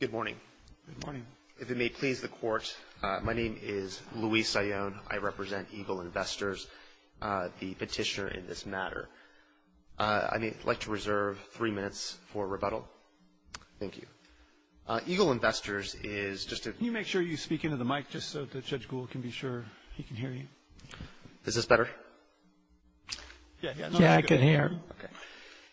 Good morning. Good morning. If it may please the Court, my name is Luis Sion. I represent Eagle Investors, the petitioner in this matter. I'd like to reserve three minutes for rebuttal. Thank you. Eagle Investors is just a Can you make sure you speak into the mic just so that Judge Gould can be sure he can hear you? Is this better? Yeah, I can hear.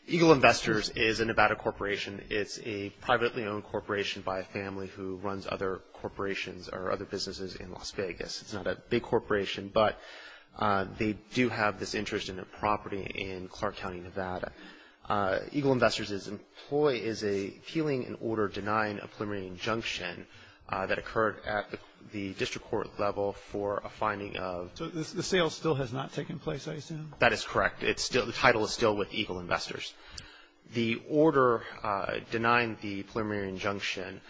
Eagle Investors is a Nevada corporation. It's a privately owned corporation by a family who runs other corporations or other businesses in Las Vegas. It's not a big corporation, but they do have this interest in a property in Clark County, Nevada. Eagle Investors' employee is appealing an order denying a preliminary injunction that occurred at the district court level for a finding of So the sale still has not taken place, I assume? That is correct. The title is still with Eagle Investors. The order denying the preliminary injunction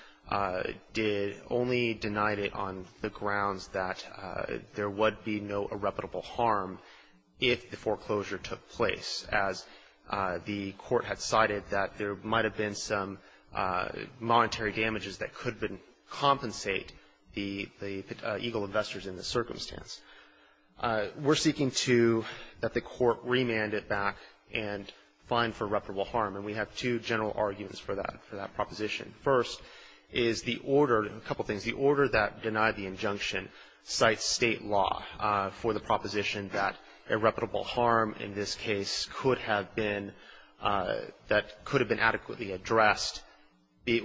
only denied it on the grounds that there would be no irreparable harm if the foreclosure took place, as the court had cited that there might have been some monetary damages that could compensate the Eagle Investors in the circumstance. We're seeking to, that the court remand it back and fine for irreparable harm, and we have two general arguments for that proposition. First is the order, a couple things. The order that denied the injunction cites state law for the proposition that irreparable harm in this case could have been, that could have been adequately addressed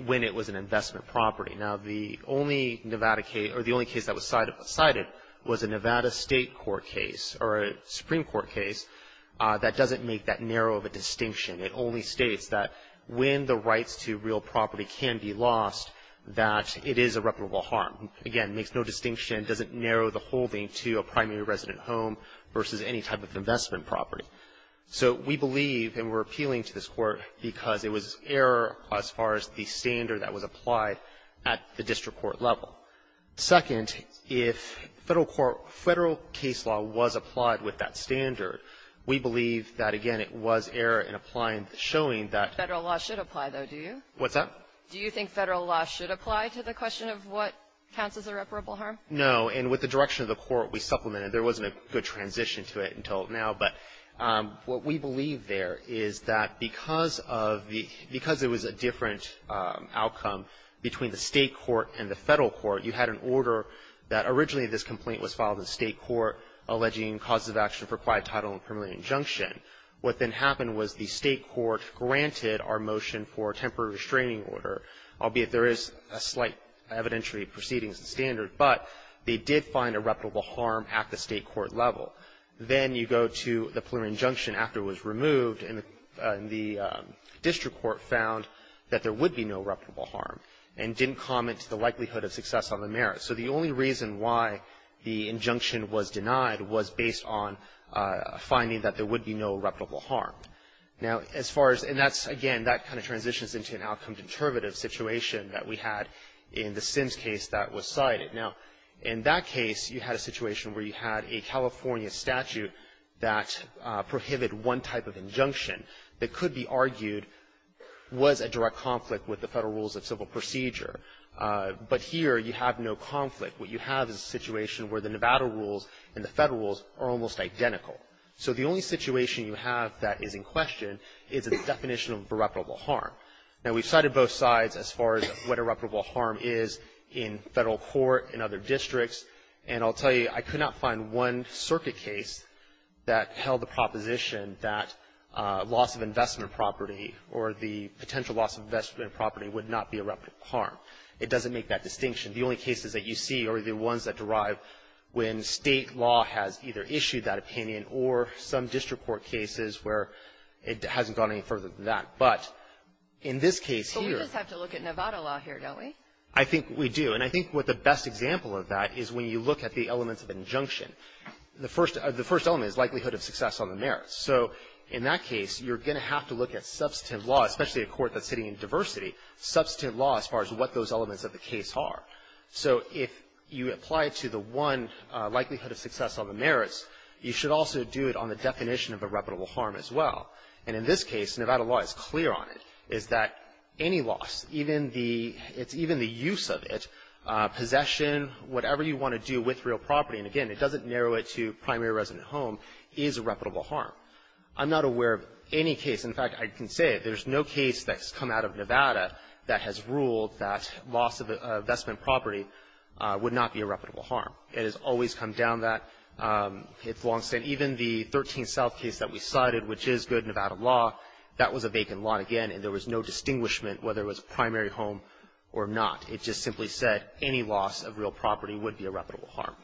when it was an investment property. Now, the only Nevada case, or the only case that was cited was a Nevada state court case, or a Supreme Court case, that doesn't make that narrow of a distinction. It only states that when the rights to real property can be lost, that it is irreparable harm. Again, makes no distinction, doesn't narrow the holding to a primary resident home versus any type of investment property. So we believe, and we're appealing to this Court, because it was error as far as the standard that was applied at the district court level. Second, if Federal court, Federal case law was applied with that standard, we believe that, again, it was error in applying, showing that the Federal law should apply, though, do you? What's that? Do you think Federal law should apply to the question of what counts as irreparable harm? No. And with the direction of the Court, we supplemented. There wasn't a good transition to it until now, but what we believe there is that because of the, because it was a different outcome between the state court and the Federal court, you had an order that originally this complaint was filed in state court alleging causes of action for quiet title and preliminary injunction. What then happened was the state court granted our motion for a temporary restraining order, albeit there is a slight evidentiary proceeding as the standard, but they did find irreparable harm at the state court level. Then you go to the preliminary injunction after it was removed, and the district court found that there would be no irreparable harm and didn't comment to the likelihood of success on the merits. So the only reason why the injunction was denied was based on finding that there would be no irreparable harm. Now, as far as, and that's, again, that kind of transitions into an outcome-determinative situation that we had in the Sims case that was cited. Now, in that case, you had a situation where you had a California statute that prohibited one type of injunction that could be argued was a direct conflict with the Federal rules of civil procedure. But here, you have no conflict. What you have is a situation where the Nevada rules and the Federal rules are almost identical. So the only situation you have that is in question is the definition of irreparable harm. Now, we've cited both sides as far as what irreparable harm is in Federal court and other districts. And I'll tell you, I could not find one circuit case that held the proposition that loss of investment property or the potential loss of investment property would not be irreparable harm. It doesn't make that distinction. The only cases that you see are the ones that derive when State law has either issued that opinion or some district court cases where it hasn't gone any further than that. But in this case here — But we just have to look at Nevada law here, don't we? I think we do. And I think what the best example of that is when you look at the elements of injunction. The first element is likelihood of success on the merits. So in that case, you're going to have to look at substantive law, especially a court that's sitting in diversity, substantive law as far as what those elements of the case are. So if you apply it to the one likelihood of success on the merits, you should also do it on the definition of irreparable harm as well. And in this case, Nevada law is clear on it, is that any loss, even the — it's even the use of it, possession, whatever you want to do with real property, and again, it doesn't narrow it to primary resident home, is irreparable harm. I'm not aware of any case — in fact, I can say it. There is no case that's come out of Nevada that has ruled that loss of investment property would not be irreparable harm. It has always come down that. It's long-standing. Even the 13 South case that we cited, which is good Nevada law, that was a vacant lot again, and there was no distinguishment whether it was primary home or not. It just simply said any loss of real property would be irreparable harm.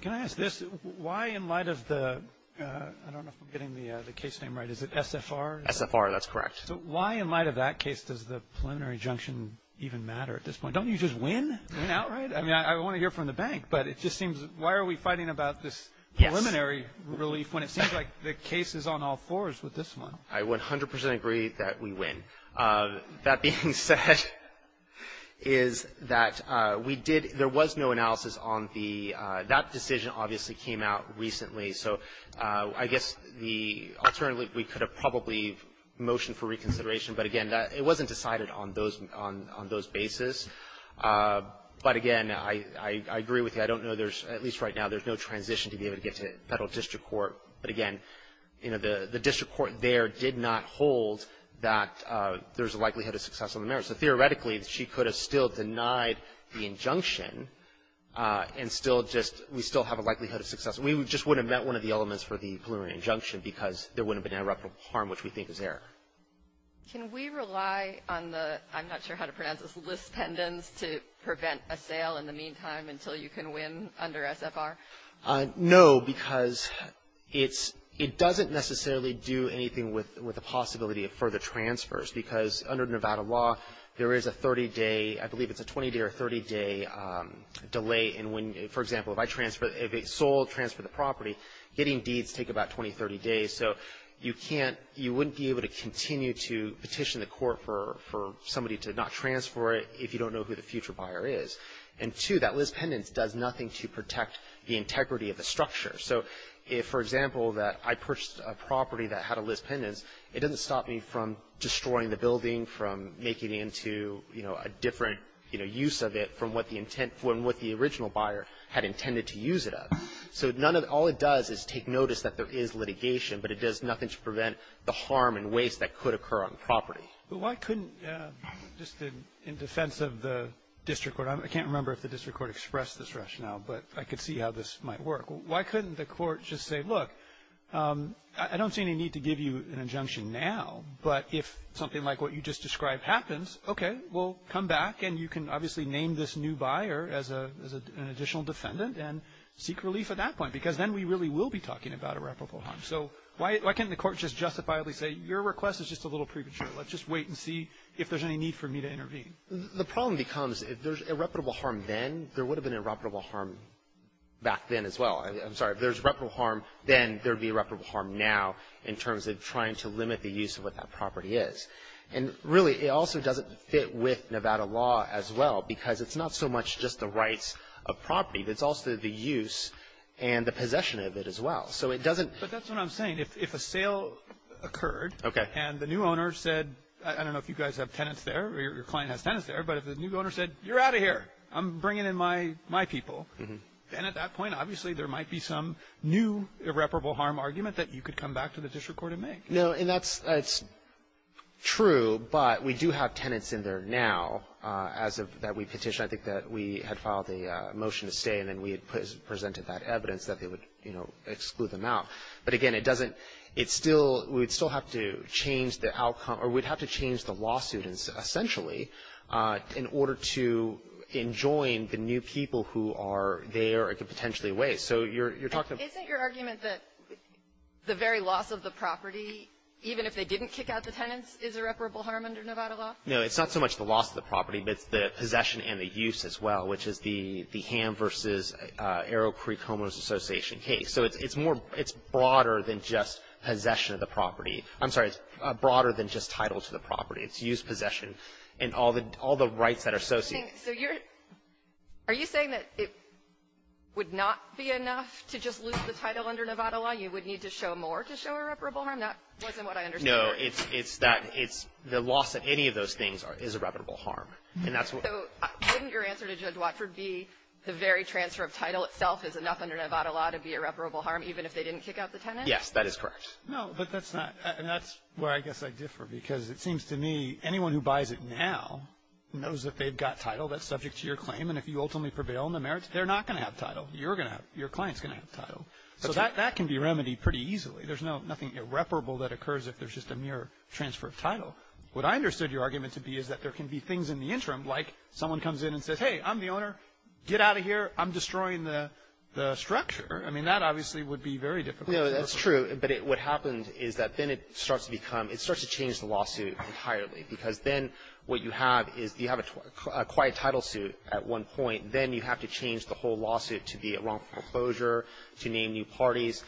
Can I ask this? Why in light of the — I don't know if I'm getting the case name right. Is it SFR? SFR, that's correct. So why in light of that case does the preliminary injunction even matter at this point? Don't you just win? Win outright? I mean, I want to hear from the bank, but it just seems — why are we fighting about this preliminary relief when it seems like the case is on all fours with this one? I 100 percent agree that we win. That being said, is that we did — there was no analysis on the — that decision obviously came out recently, so I guess the — alternatively, we could have probably motioned for reconsideration, but again, it wasn't decided on those — on those bases. But again, I agree with you. I don't know there's — at least right now, there's no transition to be able to get to federal district court. But again, you know, the district court there did not hold that there's a likelihood of success on the merits. So theoretically, she could have still denied the injunction and still just — we still have a likelihood of success. We just wouldn't have met one of the elements for the preliminary injunction because there wouldn't have been interruptible harm, which we think is error. Can we rely on the — I'm not sure how to pronounce this — list pendants to prevent a sale in the meantime until you can win under SFR? No, because it's — it doesn't necessarily do anything with the possibility of further transfers, because under Nevada law, there is a 30-day — I believe it's a 20-day or a 30-day delay in when — for example, if I transfer — if it's sold, transfer the property, getting deeds take about 20, 30 days. So you can't — you wouldn't be able to continue to petition the court for somebody to not transfer it if you don't know who the future buyer is. And two, that list pendants does nothing to protect the integrity of the structure. So if, for example, that I purchased a property that had a list pendants, it doesn't stop me from destroying the building, from making it into, you know, a different, you know, from what the original buyer had intended to use it of. So none of — all it does is take notice that there is litigation, but it does nothing to prevent the harm and waste that could occur on the property. But why couldn't — just in defense of the district court, I can't remember if the district court expressed this rationale, but I could see how this might work. Why couldn't the court just say, look, I don't see any need to give you an injunction now, but if something like what you just described happens, okay, well, come back, and you can obviously name this new buyer as an additional defendant and seek relief at that point, because then we really will be talking about irreparable harm. So why couldn't the court just justifiably say, your request is just a little premature. Let's just wait and see if there's any need for me to intervene. The problem becomes if there's irreparable harm then, there would have been irreparable harm back then as well. I'm sorry. If there's irreparable harm then, there would be irreparable harm now in terms of trying to limit the use of what that property is. And really, it also doesn't fit with Nevada law as well, because it's not so much just the rights of property, but it's also the use and the possession of it as well. So it doesn't — But that's what I'm saying. If a sale occurred — Okay. — and the new owner said — I don't know if you guys have tenants there or your client has tenants there, but if the new owner said, you're out of here, I'm bringing in my people, then at that point obviously there might be some new irreparable harm argument that you could come back to the district court and make. No, and that's true, but we do have tenants in there now as of that we petitioned. I think that we had filed a motion to stay, and then we had presented that evidence that they would, you know, exclude them out. But again, it doesn't — it still — we'd still have to change the outcome or we'd have to change the lawsuit essentially in order to enjoin the new people who are there and could potentially waste. So you're talking about — Even if they didn't kick out the tenants, is irreparable harm under Nevada law? No. It's not so much the loss of the property, but it's the possession and the use as well, which is the Ham v. Arrow Creek Homeless Association case. So it's more — it's broader than just possession of the property. I'm sorry. It's broader than just title to the property. It's use, possession, and all the rights that are associated. So you're — are you saying that it would not be enough to just lose the title under Nevada law? You would need to show more to show irreparable harm? That wasn't what I understood. No, it's that — it's the loss of any of those things is irreparable harm. And that's what — So wouldn't your answer to Judge Watford be the very transfer of title itself is enough under Nevada law to be irreparable harm even if they didn't kick out the tenants? Yes, that is correct. No, but that's not — and that's where I guess I differ because it seems to me anyone who buys it now knows that they've got title that's subject to your claim. And if you ultimately prevail on the merits, they're not going to have title. You're going to have — your client's going to have title. So that — that can be remedied pretty easily. There's no — nothing irreparable that occurs if there's just a mere transfer of title. What I understood your argument to be is that there can be things in the interim, like someone comes in and says, hey, I'm the owner. Get out of here. I'm destroying the — the structure. I mean, that obviously would be very difficult. No, that's true. But it — what happened is that then it starts to become — it starts to change the lawsuit entirely because then what you have is you have a quiet title suit at one point. Then you have to change the whole lawsuit to be a wrongful closure, to name new parties.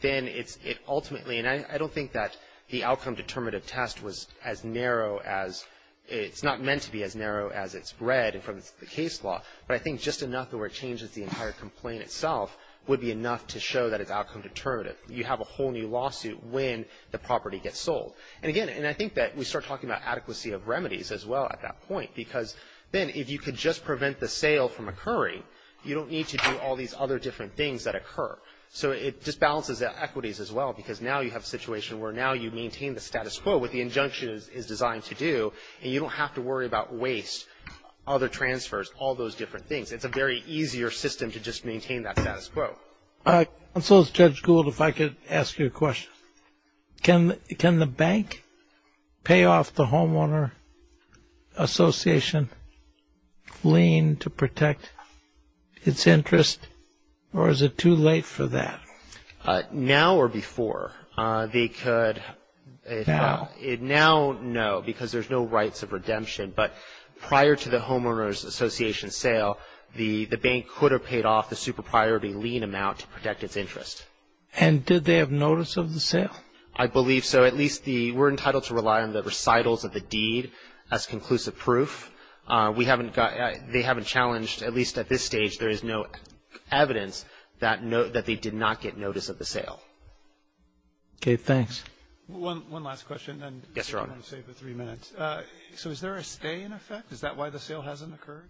Then it's — it ultimately — and I don't think that the outcome-determinative test was as narrow as — it's not meant to be as narrow as it's read from the case law. But I think just enough that where it changes the entire complaint itself would be enough to show that it's outcome-determinative. You have a whole new lawsuit when the property gets sold. And again, and I think that we start talking about adequacy of remedies as well at that point because then if you could just prevent the sale from occurring, you don't need to do all these other different things that occur. So it just balances the equities as well because now you have a situation where now you maintain the status quo, what the injunction is designed to do, and you don't have to worry about waste, other transfers, all those different things. It's a very easier system to just maintain that status quo. Counsel, Judge Gould, if I could ask you a question. Can the bank pay off the homeowner association lien to protect its interest, or is it too late for that? Now or before. They could — Now. But prior to the homeowner's association sale, the bank could have paid off the super-priority lien amount to protect its interest. And did they have notice of the sale? I believe so. At least the — we're entitled to rely on the recitals of the deed as conclusive proof. We haven't got — they haven't challenged, at least at this stage, there is no evidence that they did not get notice of the sale. Okay. Thanks. One last question. Yes, Your Honor. I want to save the three minutes. So is there a stay in effect? Is that why the sale hasn't occurred?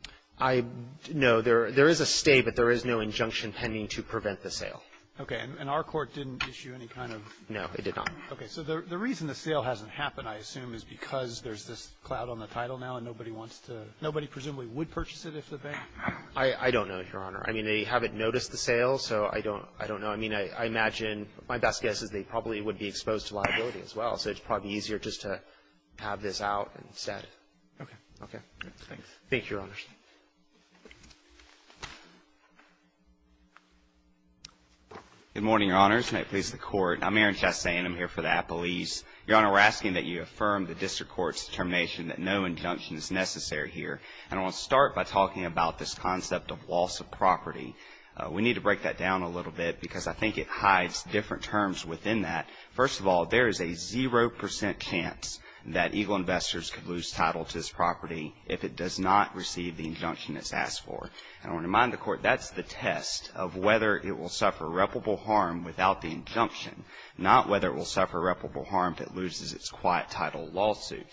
No. There is a stay, but there is no injunction pending to prevent the sale. Okay. And our court didn't issue any kind of — No, it did not. Okay. So the reason the sale hasn't happened, I assume, is because there's this cloud on the title now, and nobody wants to — nobody presumably would purchase it if the bank — I don't know, Your Honor. I mean, they haven't noticed the sale, so I don't know. I mean, I imagine — my best guess is they probably would be exposed to liability as well, so it's probably easier just to have this out instead. Okay. Okay. Thanks. Thank you, Your Honors. Good morning, Your Honors. May it please the Court. I'm Aaron Chastain. I'm here for the appellees. Your Honor, we're asking that you affirm the district court's determination that no injunction is necessary here. And I want to start by talking about this concept of loss of property. We need to break that down a little bit because I think it hides different terms within that. First of all, there is a zero percent chance that Eagle Investors could lose title to this property if it does not receive the injunction it's asked for. And I want to remind the Court that's the test of whether it will suffer reputable harm without the injunction, not whether it will suffer reputable harm if it loses its quiet title lawsuit.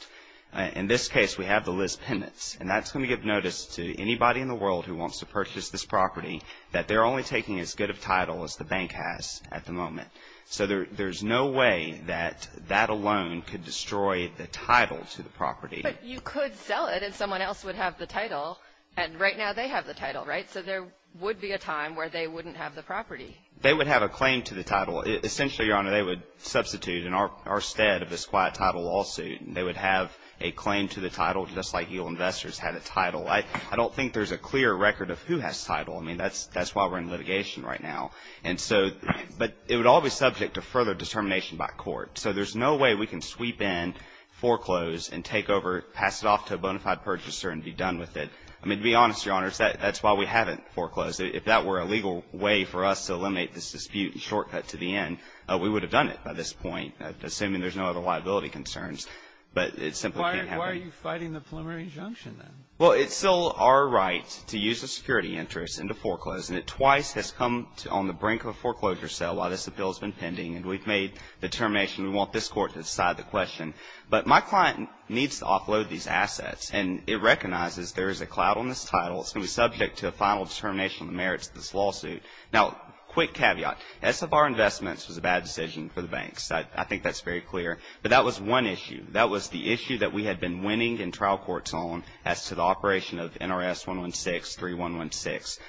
In this case, we have the Liz Pendents, and that's going to give notice to anybody in the world who wants to purchase this property that they're only taking as good of title as the bank has at the moment. So there's no way that that alone could destroy the title to the property. But you could sell it and someone else would have the title, and right now they have the title, right? So there would be a time where they wouldn't have the property. They would have a claim to the title. Essentially, Your Honor, they would substitute in our stead of this quiet title lawsuit, and they would have a claim to the title just like Eagle Investors had a title. I don't think there's a clear record of who has title. I mean, that's why we're in litigation right now. And so, but it would all be subject to further determination by court. So there's no way we can sweep in, foreclose, and take over, pass it off to a bona fide purchaser and be done with it. I mean, to be honest, Your Honors, that's why we haven't foreclosed. If that were a legal way for us to eliminate this dispute and shortcut to the end, we would have done it by this point, assuming there's no other liability concerns. But it simply can't happen. Why are you fighting the preliminary injunction, then? Well, it's still our right to use the security interest and to foreclose. And it twice has come on the brink of a foreclosure sale while this appeal has been pending. And we've made the determination we want this court to decide the question. But my client needs to offload these assets. And it recognizes there is a cloud on this title. It's going to be subject to a final determination on the merits of this lawsuit. Now, quick caveat. SFR Investments was a bad decision for the banks. I think that's very clear. But that was one issue. That was the issue that we had been winning in trial courts on as to the operation of NRS 116, 3116.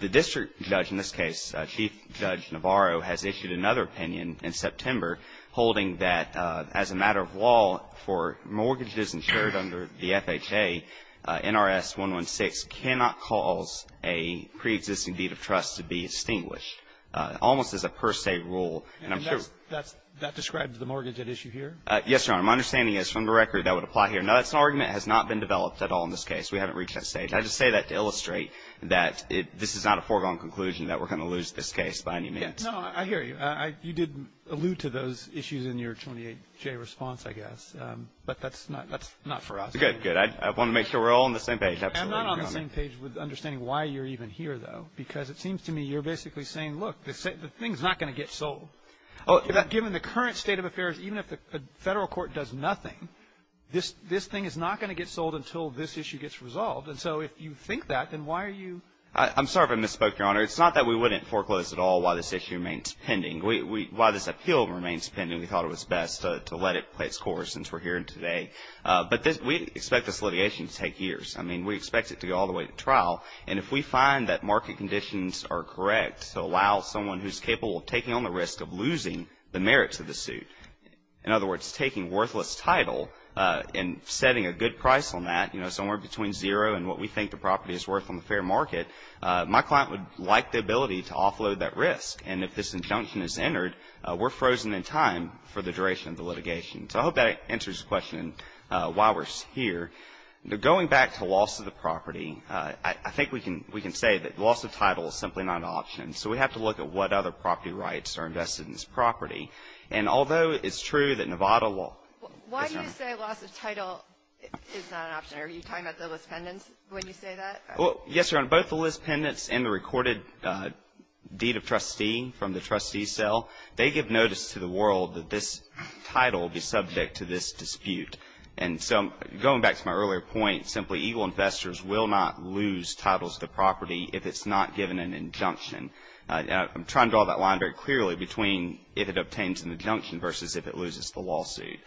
The district judge in this case, Chief Judge Navarro, has issued another opinion in September holding that as a matter of law for mortgages insured under the FHA, NRS 116 cannot cause a preexisting deed of trust to be extinguished, almost as a per se rule. And I'm sure that's the case. And that describes the mortgage at issue here? Yes, Your Honor. My understanding is from the record that would apply here. Now, that's an argument that has not been developed at all in this case. We haven't reached that stage. I just say that to illustrate that this is not a foregone conclusion that we're going to lose this case by any means. No, I hear you. You did allude to those issues in your 28-J response, I guess. But that's not for us. Good, good. I want to make sure we're all on the same page. Absolutely. I'm not on the same page with understanding why you're even here, though. Because it seems to me you're basically saying, look, the thing's not going to get sold. Oh, given the current state of affairs, even if the Federal Court does nothing, this thing is not going to get sold until this issue gets resolved. And so if you think that, then why are you? I'm sorry if I misspoke, Your Honor. It's not that we wouldn't foreclose at all while this issue remains pending. While this appeal remains pending, we thought it was best to let it play its course since we're here today. But we expect this litigation to take years. I mean, we expect it to go all the way to trial. And if we find that market conditions are correct to allow someone who's capable of taking on the risk of losing the merits of the suit. In other words, taking worthless title and setting a good price on that, you know, somewhere between zero and what we think the property is worth on the fair market, my client would like the ability to offload that risk. And if this injunction is entered, we're frozen in time for the duration of the litigation. So I hope that answers the question why we're here. Going back to loss of the property, I think we can say that loss of title is simply not an option. So we have to look at what other property rights are invested in this property. And although it's true that Nevada law. Why do you say loss of title is not an option? Are you talking about the list pendants when you say that? Yes, Your Honor. Both the list pendants and the recorded deed of trustee from the trustee cell, they give notice to the world that this title will be subject to this dispute. And so going back to my earlier point, will not lose titles of the property if it's not given an injunction. I'm trying to draw that line very clearly between if it obtains an injunction versus if it loses the lawsuit.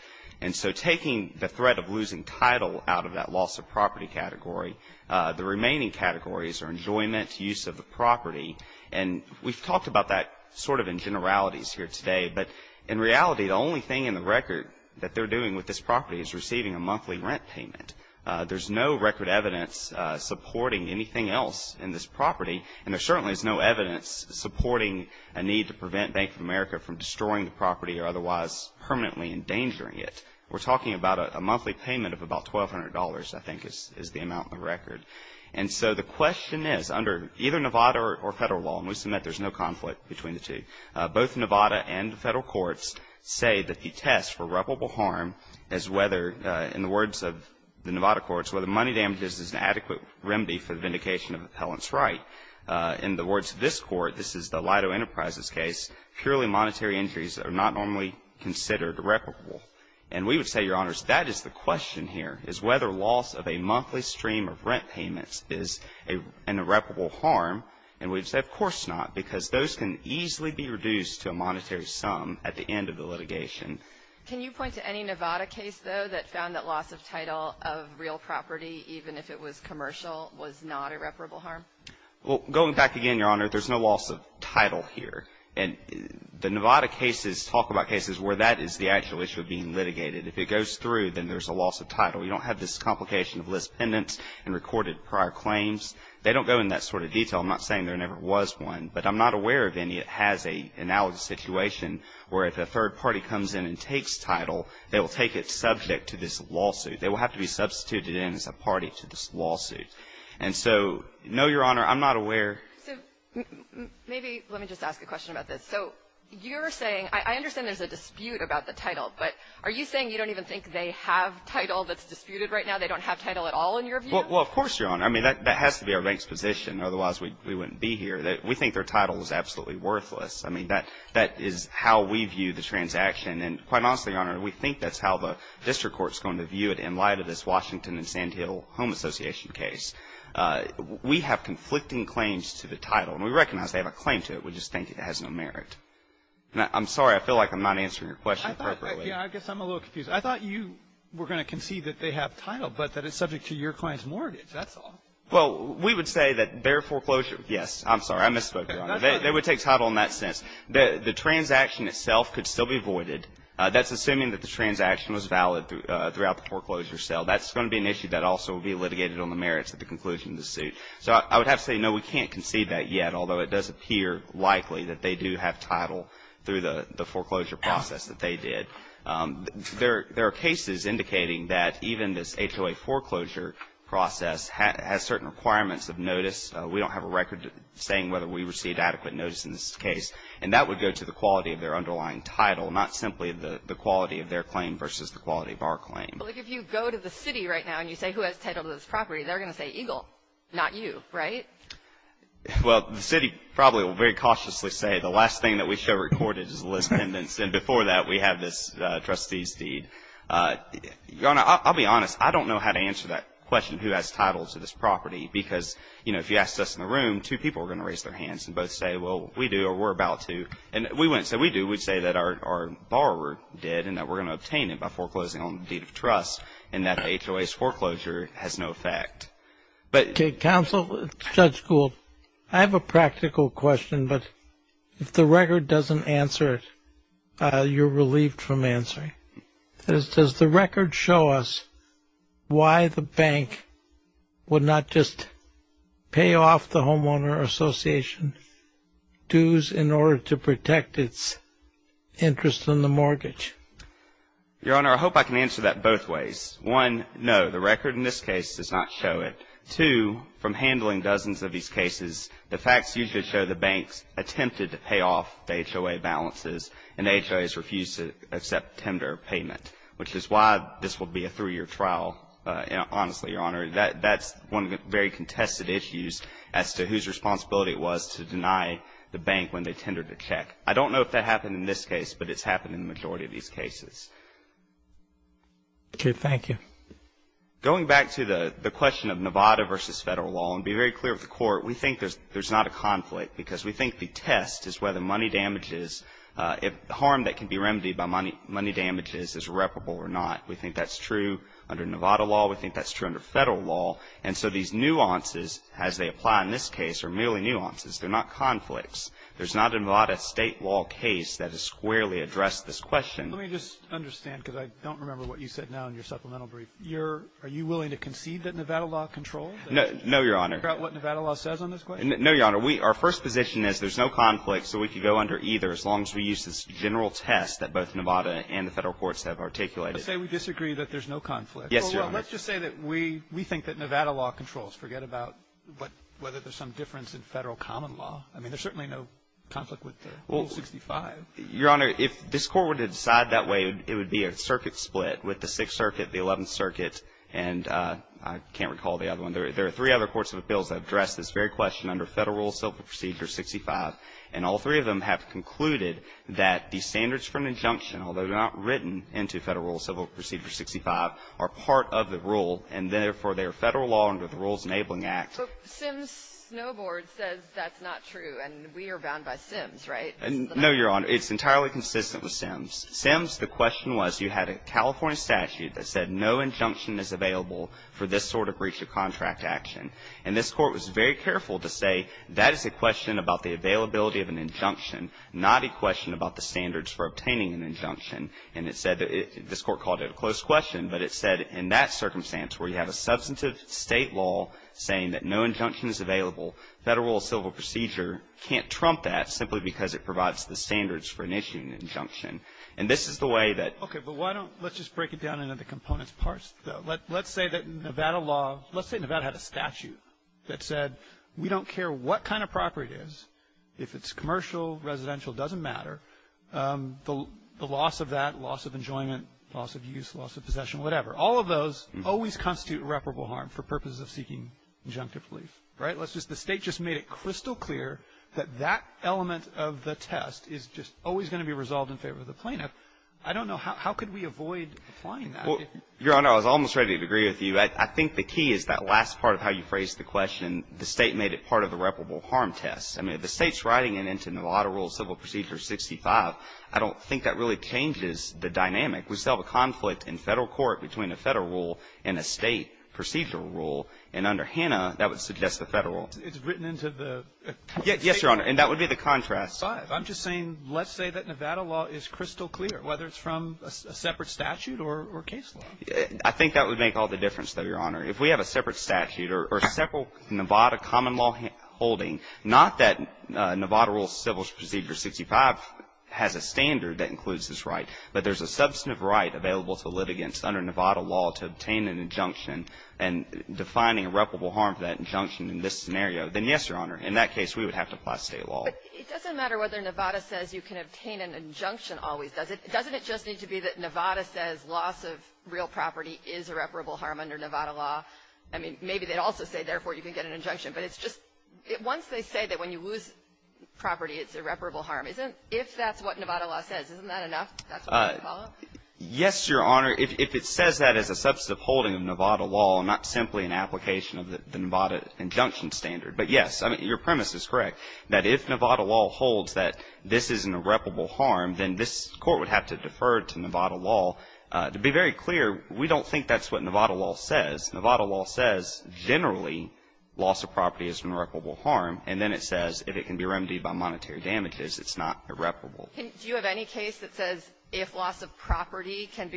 And so taking the threat of losing title out of that loss of property category, the remaining categories are enjoyment, use of the property. And we've talked about that sort of in generalities here today. But in reality, the only thing in the record that they're doing with this property is receiving a monthly rent payment. There's no record evidence supporting anything else in this property. And there certainly is no evidence supporting a need to prevent Bank of America from destroying the property or otherwise permanently endangering it. We're talking about a monthly payment of about $1,200, I think, is the amount in the record. And so the question is, under either Nevada or federal law, and we submit there's no conflict between the two, both Nevada and federal courts say that the test for reputable harm is whether, in the words of the Nevada courts, whether money damages is an adequate remedy for the vindication of appellant's right. In the words of this court, this is the Lido Enterprises case, purely monetary injuries are not normally considered reputable. And we would say, Your Honors, that is the question here, is whether loss of a monthly stream of rent payments is an irreparable harm. And we'd say, of course not, because those can easily be reduced to a monetary sum at the end of the litigation. Can you point to any Nevada case, though, that found that loss of title of real property, even if it was commercial, was not irreparable harm? Well, going back again, Your Honor, there's no loss of title here. And the Nevada cases talk about cases where that is the actual issue of being litigated. If it goes through, then there's a loss of title. You don't have this complication of list pendants and recorded prior claims. They don't go into that sort of detail. I'm not saying there never was one. But I'm not aware of any that has an analogy situation where if a third party comes in and takes title, they will take it subject to this lawsuit. They will have to be substituted in as a party to this lawsuit. And so, no, Your Honor, I'm not aware. So maybe let me just ask a question about this. So you're saying – I understand there's a dispute about the title, but are you saying you don't even think they have title that's disputed right now? They don't have title at all in your view? Well, of course, Your Honor. I mean, that has to be our bank's position. Otherwise, we wouldn't be here. We think their title is absolutely worthless. I mean, that is how we view the transaction. And quite honestly, Your Honor, we think that's how the district court is going to view it in light of this Washington and Sand Hill Home Association case. We have conflicting claims to the title. And we recognize they have a claim to it. We just think it has no merit. I'm sorry. I feel like I'm not answering your question appropriately. I guess I'm a little confused. I thought you were going to concede that they have title, but that it's subject to your client's mortgage. That's all. Well, we would say that their foreclosure, yes. I'm sorry. I misspoke, Your Honor. They would take title in that sense. The transaction itself could still be voided. That's assuming that the transaction was valid throughout the foreclosure sale. That's going to be an issue that also will be litigated on the merits at the conclusion of the suit. So I would have to say, no, we can't concede that yet, although it does appear likely that they do have title through the foreclosure process that they did. There are cases indicating that even this HOA foreclosure process has certain requirements of notice. We don't have a record saying whether we received adequate notice in this case. And that would go to the quality of their underlying title, not simply the quality of their claim versus the quality of our claim. Well, if you go to the city right now and you say who has title to this property, they're going to say Eagle, not you, right? Well, the city probably will very cautiously say the last thing that we show recorded is trustee's deed. I'll be honest. I don't know how to answer that question, who has title to this property, because, you know, if you asked us in the room, two people are going to raise their hands and both say, well, we do or we're about to. And we wouldn't say we do. We'd say that our borrower did and that we're going to obtain it by foreclosing on the deed of trust and that HOA's foreclosure has no effect. Okay. Counsel, Judge Gould, I have a practical question. But if the record doesn't answer it, you're relieved from answering. Does the record show us why the bank would not just pay off the homeowner association dues in order to protect its interest in the mortgage? Your Honor, I hope I can answer that both ways. One, no, the record in this case does not show it. Two, from handling dozens of these cases, the facts usually show the banks attempted to pay off the HOA balances and the HOA's refused to accept tender payment, which is why this will be a three-year trial, honestly, Your Honor. That's one of the very contested issues as to whose responsibility it was to deny the bank when they tendered a check. I don't know if that happened in this case, but it's happened in the majority of these cases. Okay. Thank you. Going back to the question of Nevada versus Federal law, and be very clear with the Court, we think there's not a conflict, because we think the test is whether money damages, if harm that can be remedied by money damages is reparable or not. We think that's true under Nevada law. We think that's true under Federal law. And so these nuances, as they apply in this case, are merely nuances. They're not conflicts. There's not a Nevada State law case that has squarely addressed this question. Let me just understand, because I don't remember what you said now in your supplemental brief. Are you willing to concede that Nevada law controls? No, Your Honor. About what Nevada law says on this question? No, Your Honor. Our first position is there's no conflict, so we could go under either as long as we use this general test that both Nevada and the Federal courts have articulated. Let's say we disagree that there's no conflict. Yes, Your Honor. Well, let's just say that we think that Nevada law controls. Forget about whether there's some difference in Federal common law. I mean, there's certainly no conflict with Rule 65. Your Honor, if this Court were to decide that way, it would be a circuit split with the Sixth Circuit, the Eleventh Circuit, and I can't recall the other one. There are three other courts of appeals that address this very question under Federal Rule Civil Procedure 65, and all three of them have concluded that the standards for an injunction, although they're not written into Federal Rule Civil Procedure 65, are part of the rule, and therefore, they are Federal law under the Rules Enabling Act. But Sims Snowboard says that's not true, and we are bound by Sims, right? No, Your Honor. It's entirely consistent with Sims. Sims, the question was, you had a California statute that said no injunction is available for this sort of breach of contract action. And this Court was very careful to say that is a question about the availability of an injunction, not a question about the standards for obtaining an injunction. And it said that this Court called it a close question, but it said in that circumstance where you have a substantive State law saying that no injunction is available, Federal Rule Civil Procedure can't trump that simply because it provides the standards for initiating an injunction. And this is the way that — Okay. But why don't — let's just break it down into the components parts, though. Let's say that Nevada law — let's say Nevada had a statute that said we don't care what kind of property it is, if it's commercial, residential, doesn't matter, the loss of that, loss of enjoyment, loss of use, loss of possession, whatever. All of those always constitute irreparable harm for purposes of seeking injunctive relief, right? Let's just — the State just made it crystal clear that that element of the test is just always going to be resolved in favor of the plaintiff. I don't know. How could we avoid applying that? Well, Your Honor, I was almost ready to agree with you. I think the key is that last part of how you phrased the question. The State made it part of the irreparable harm test. I mean, if the State's writing it into Nevada Rule Civil Procedure 65, I don't think that really changes the dynamic. We still have a conflict in Federal court between a Federal rule and a State procedural rule, and under Hanna, that would suggest the Federal rule. It's written into the State rule. Yes, Your Honor, and that would be the contrast. I'm just saying let's say that Nevada law is crystal clear, whether it's from a separate statute or case law. I think that would make all the difference, though, Your Honor. If we have a separate statute or a separate Nevada common law holding, not that Nevada Rule Civil Procedure 65 has a standard that includes this right, but there's a substantive right available to litigants under Nevada law to obtain an injunction, and defining irreparable harm for that injunction in this scenario, then yes, Your Honor, in that case, we would have to apply State law. But it doesn't matter whether Nevada says you can obtain an injunction always, does it? Doesn't it just need to be that Nevada says loss of real property is irreparable harm under Nevada law? I mean, maybe they'd also say, therefore, you can get an injunction, but it's just once they say that when you lose property, it's irreparable harm. If that's what Nevada law says, isn't that enough? Yes, Your Honor. If it says that as a substantive holding of Nevada law, not simply an application of the Nevada injunction standard, but yes, I mean, your premise is correct, that if Nevada law holds that this is an irreparable harm, then this Court would have to defer to Nevada law. To be very clear, we don't think that's what Nevada law says. Nevada law says generally loss of property is an irreparable harm, and then it says if it can be remedied by monetary damages, it's not irreparable. Do you have any case that says if loss of property can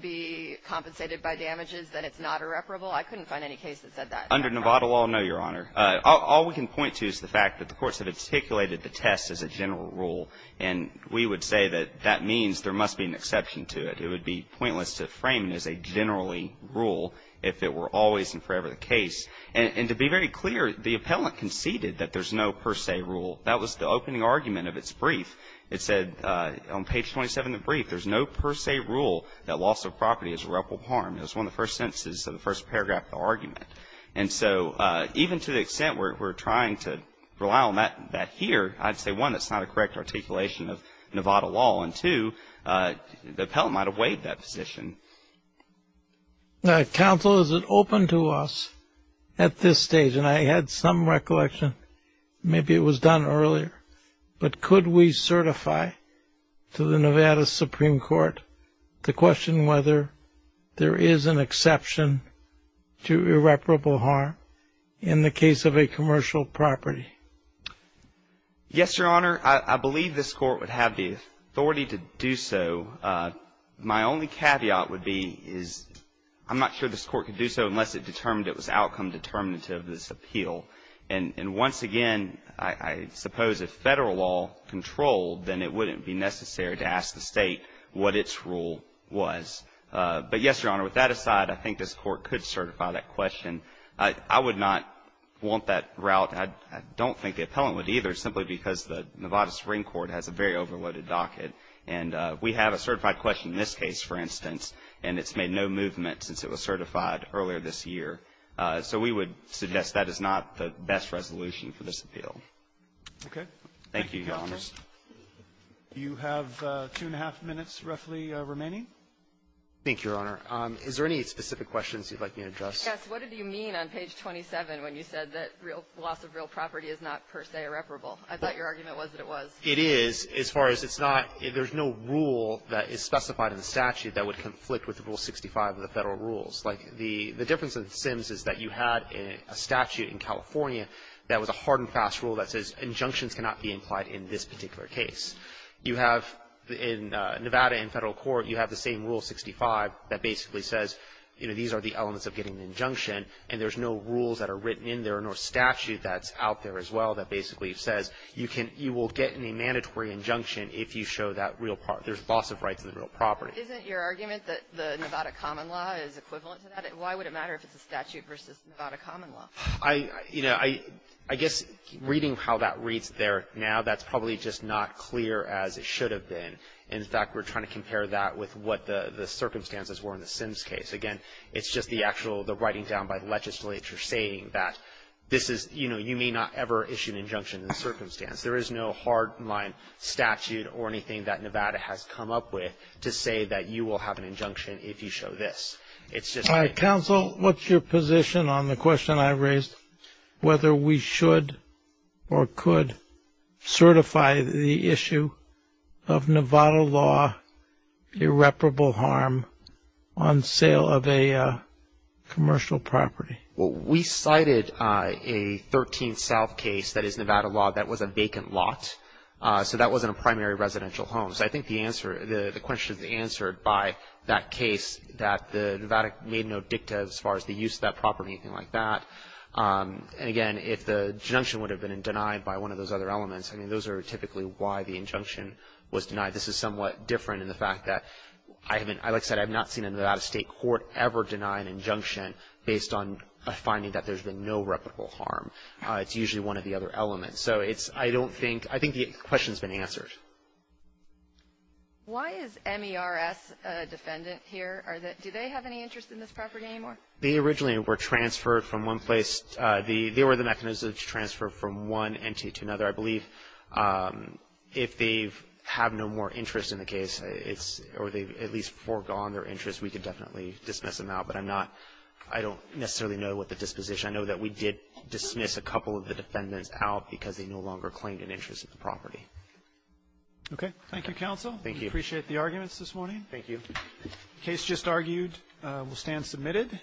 be compensated by damages, that it's not irreparable? I couldn't find any case that said that. Under Nevada law, no, Your Honor. All we can point to is the fact that the courts have articulated the test as a general rule, and we would say that that means there must be an exception to it. It would be pointless to frame it as a generally rule if it were always and forever the case. And to be very clear, the appellant conceded that there's no per se rule. That was the opening argument of its brief. It said on page 27 of the brief, there's no per se rule that loss of property is irreparable harm. It was one of the first sentences of the first paragraph of the argument. And so even to the extent we're trying to rely on that here, I'd say, one, that's not a correct articulation of Nevada law, and two, the appellant might have waived that position. Counsel, is it open to us at this stage? And I had some recollection. Maybe it was done earlier. But could we certify to the Nevada Supreme Court the question whether there is an exception to irreparable harm in the case of a commercial property? Yes, Your Honor. I believe this Court would have the authority to do so. My only caveat would be is I'm not sure this Court could do so unless it determined it was outcome determinative of this appeal. And once again, I suppose if Federal law controlled, then it wouldn't be necessary to ask the State what its rule was. But yes, Your Honor, with that aside, I think this Court could certify that question. I would not want that route. I don't think the appellant would either, simply because the Nevada Supreme Court has a very overloaded docket. And we have a certified question in this case, for instance, and it's made no movement since it was certified earlier this year. So we would suggest that is not the best resolution for this appeal. Thank you, Your Honor. Do you have two-and-a-half minutes roughly remaining? Thank you, Your Honor. Is there any specific questions you'd like me to address? Yes. What did you mean on page 27 when you said that real loss of real property is not, per se, irreparable? I thought your argument was that it was. It is. As far as it's not, there's no rule that is specified in the statute that would The difference with Sims is that you had a statute in California that was a hard and fast rule that says injunctions cannot be implied in this particular case. You have in Nevada in federal court, you have the same Rule 65 that basically says, you know, these are the elements of getting an injunction. And there's no rules that are written in there nor statute that's out there as well that basically says you will get a mandatory injunction if you show that real property. There's loss of rights in the real property. Isn't your argument that the Nevada common law is equivalent to that? Why would it matter if it's a statute versus Nevada common law? I, you know, I guess reading how that reads there now, that's probably just not clear as it should have been. In fact, we're trying to compare that with what the circumstances were in the Sims case. Again, it's just the actual, the writing down by legislature saying that this is, you know, you may not ever issue an injunction in the circumstance. There is no hardline statute or anything that Nevada has come up with to say that you will have an injunction if you show this. It's just. Counsel, what's your position on the question I raised, whether we should or could certify the issue of Nevada law irreparable harm on sale of a commercial property? Well, we cited a 13th South case that is Nevada law that was a vacant lot. So that wasn't a primary residential home. So I think the answer, the question is answered by that case that the Nevada made no dicta as far as the use of that property or anything like that. And again, if the injunction would have been denied by one of those other elements, I mean, those are typically why the injunction was denied. This is somewhat different in the fact that I haven't, like I said, I've not seen a Nevada state court ever deny an injunction based on a finding that there's been no reputable harm. It's usually one of the other elements. So it's, I don't think, I think the question's been answered. Why is MERS a defendant here? Do they have any interest in this property anymore? They originally were transferred from one place. They were the mechanism to transfer from one entity to another. I believe if they have no more interest in the case, it's, or they've at least foregone their interest, we could definitely dismiss them out. But I'm not, I don't necessarily know what the disposition. I know that we did dismiss a couple of the defendants out because they no longer claimed an interest in the property. Roberts. Okay. Thank you, counsel. Thank you. We appreciate the arguments this morning. Thank you. The case just argued will stand submitted.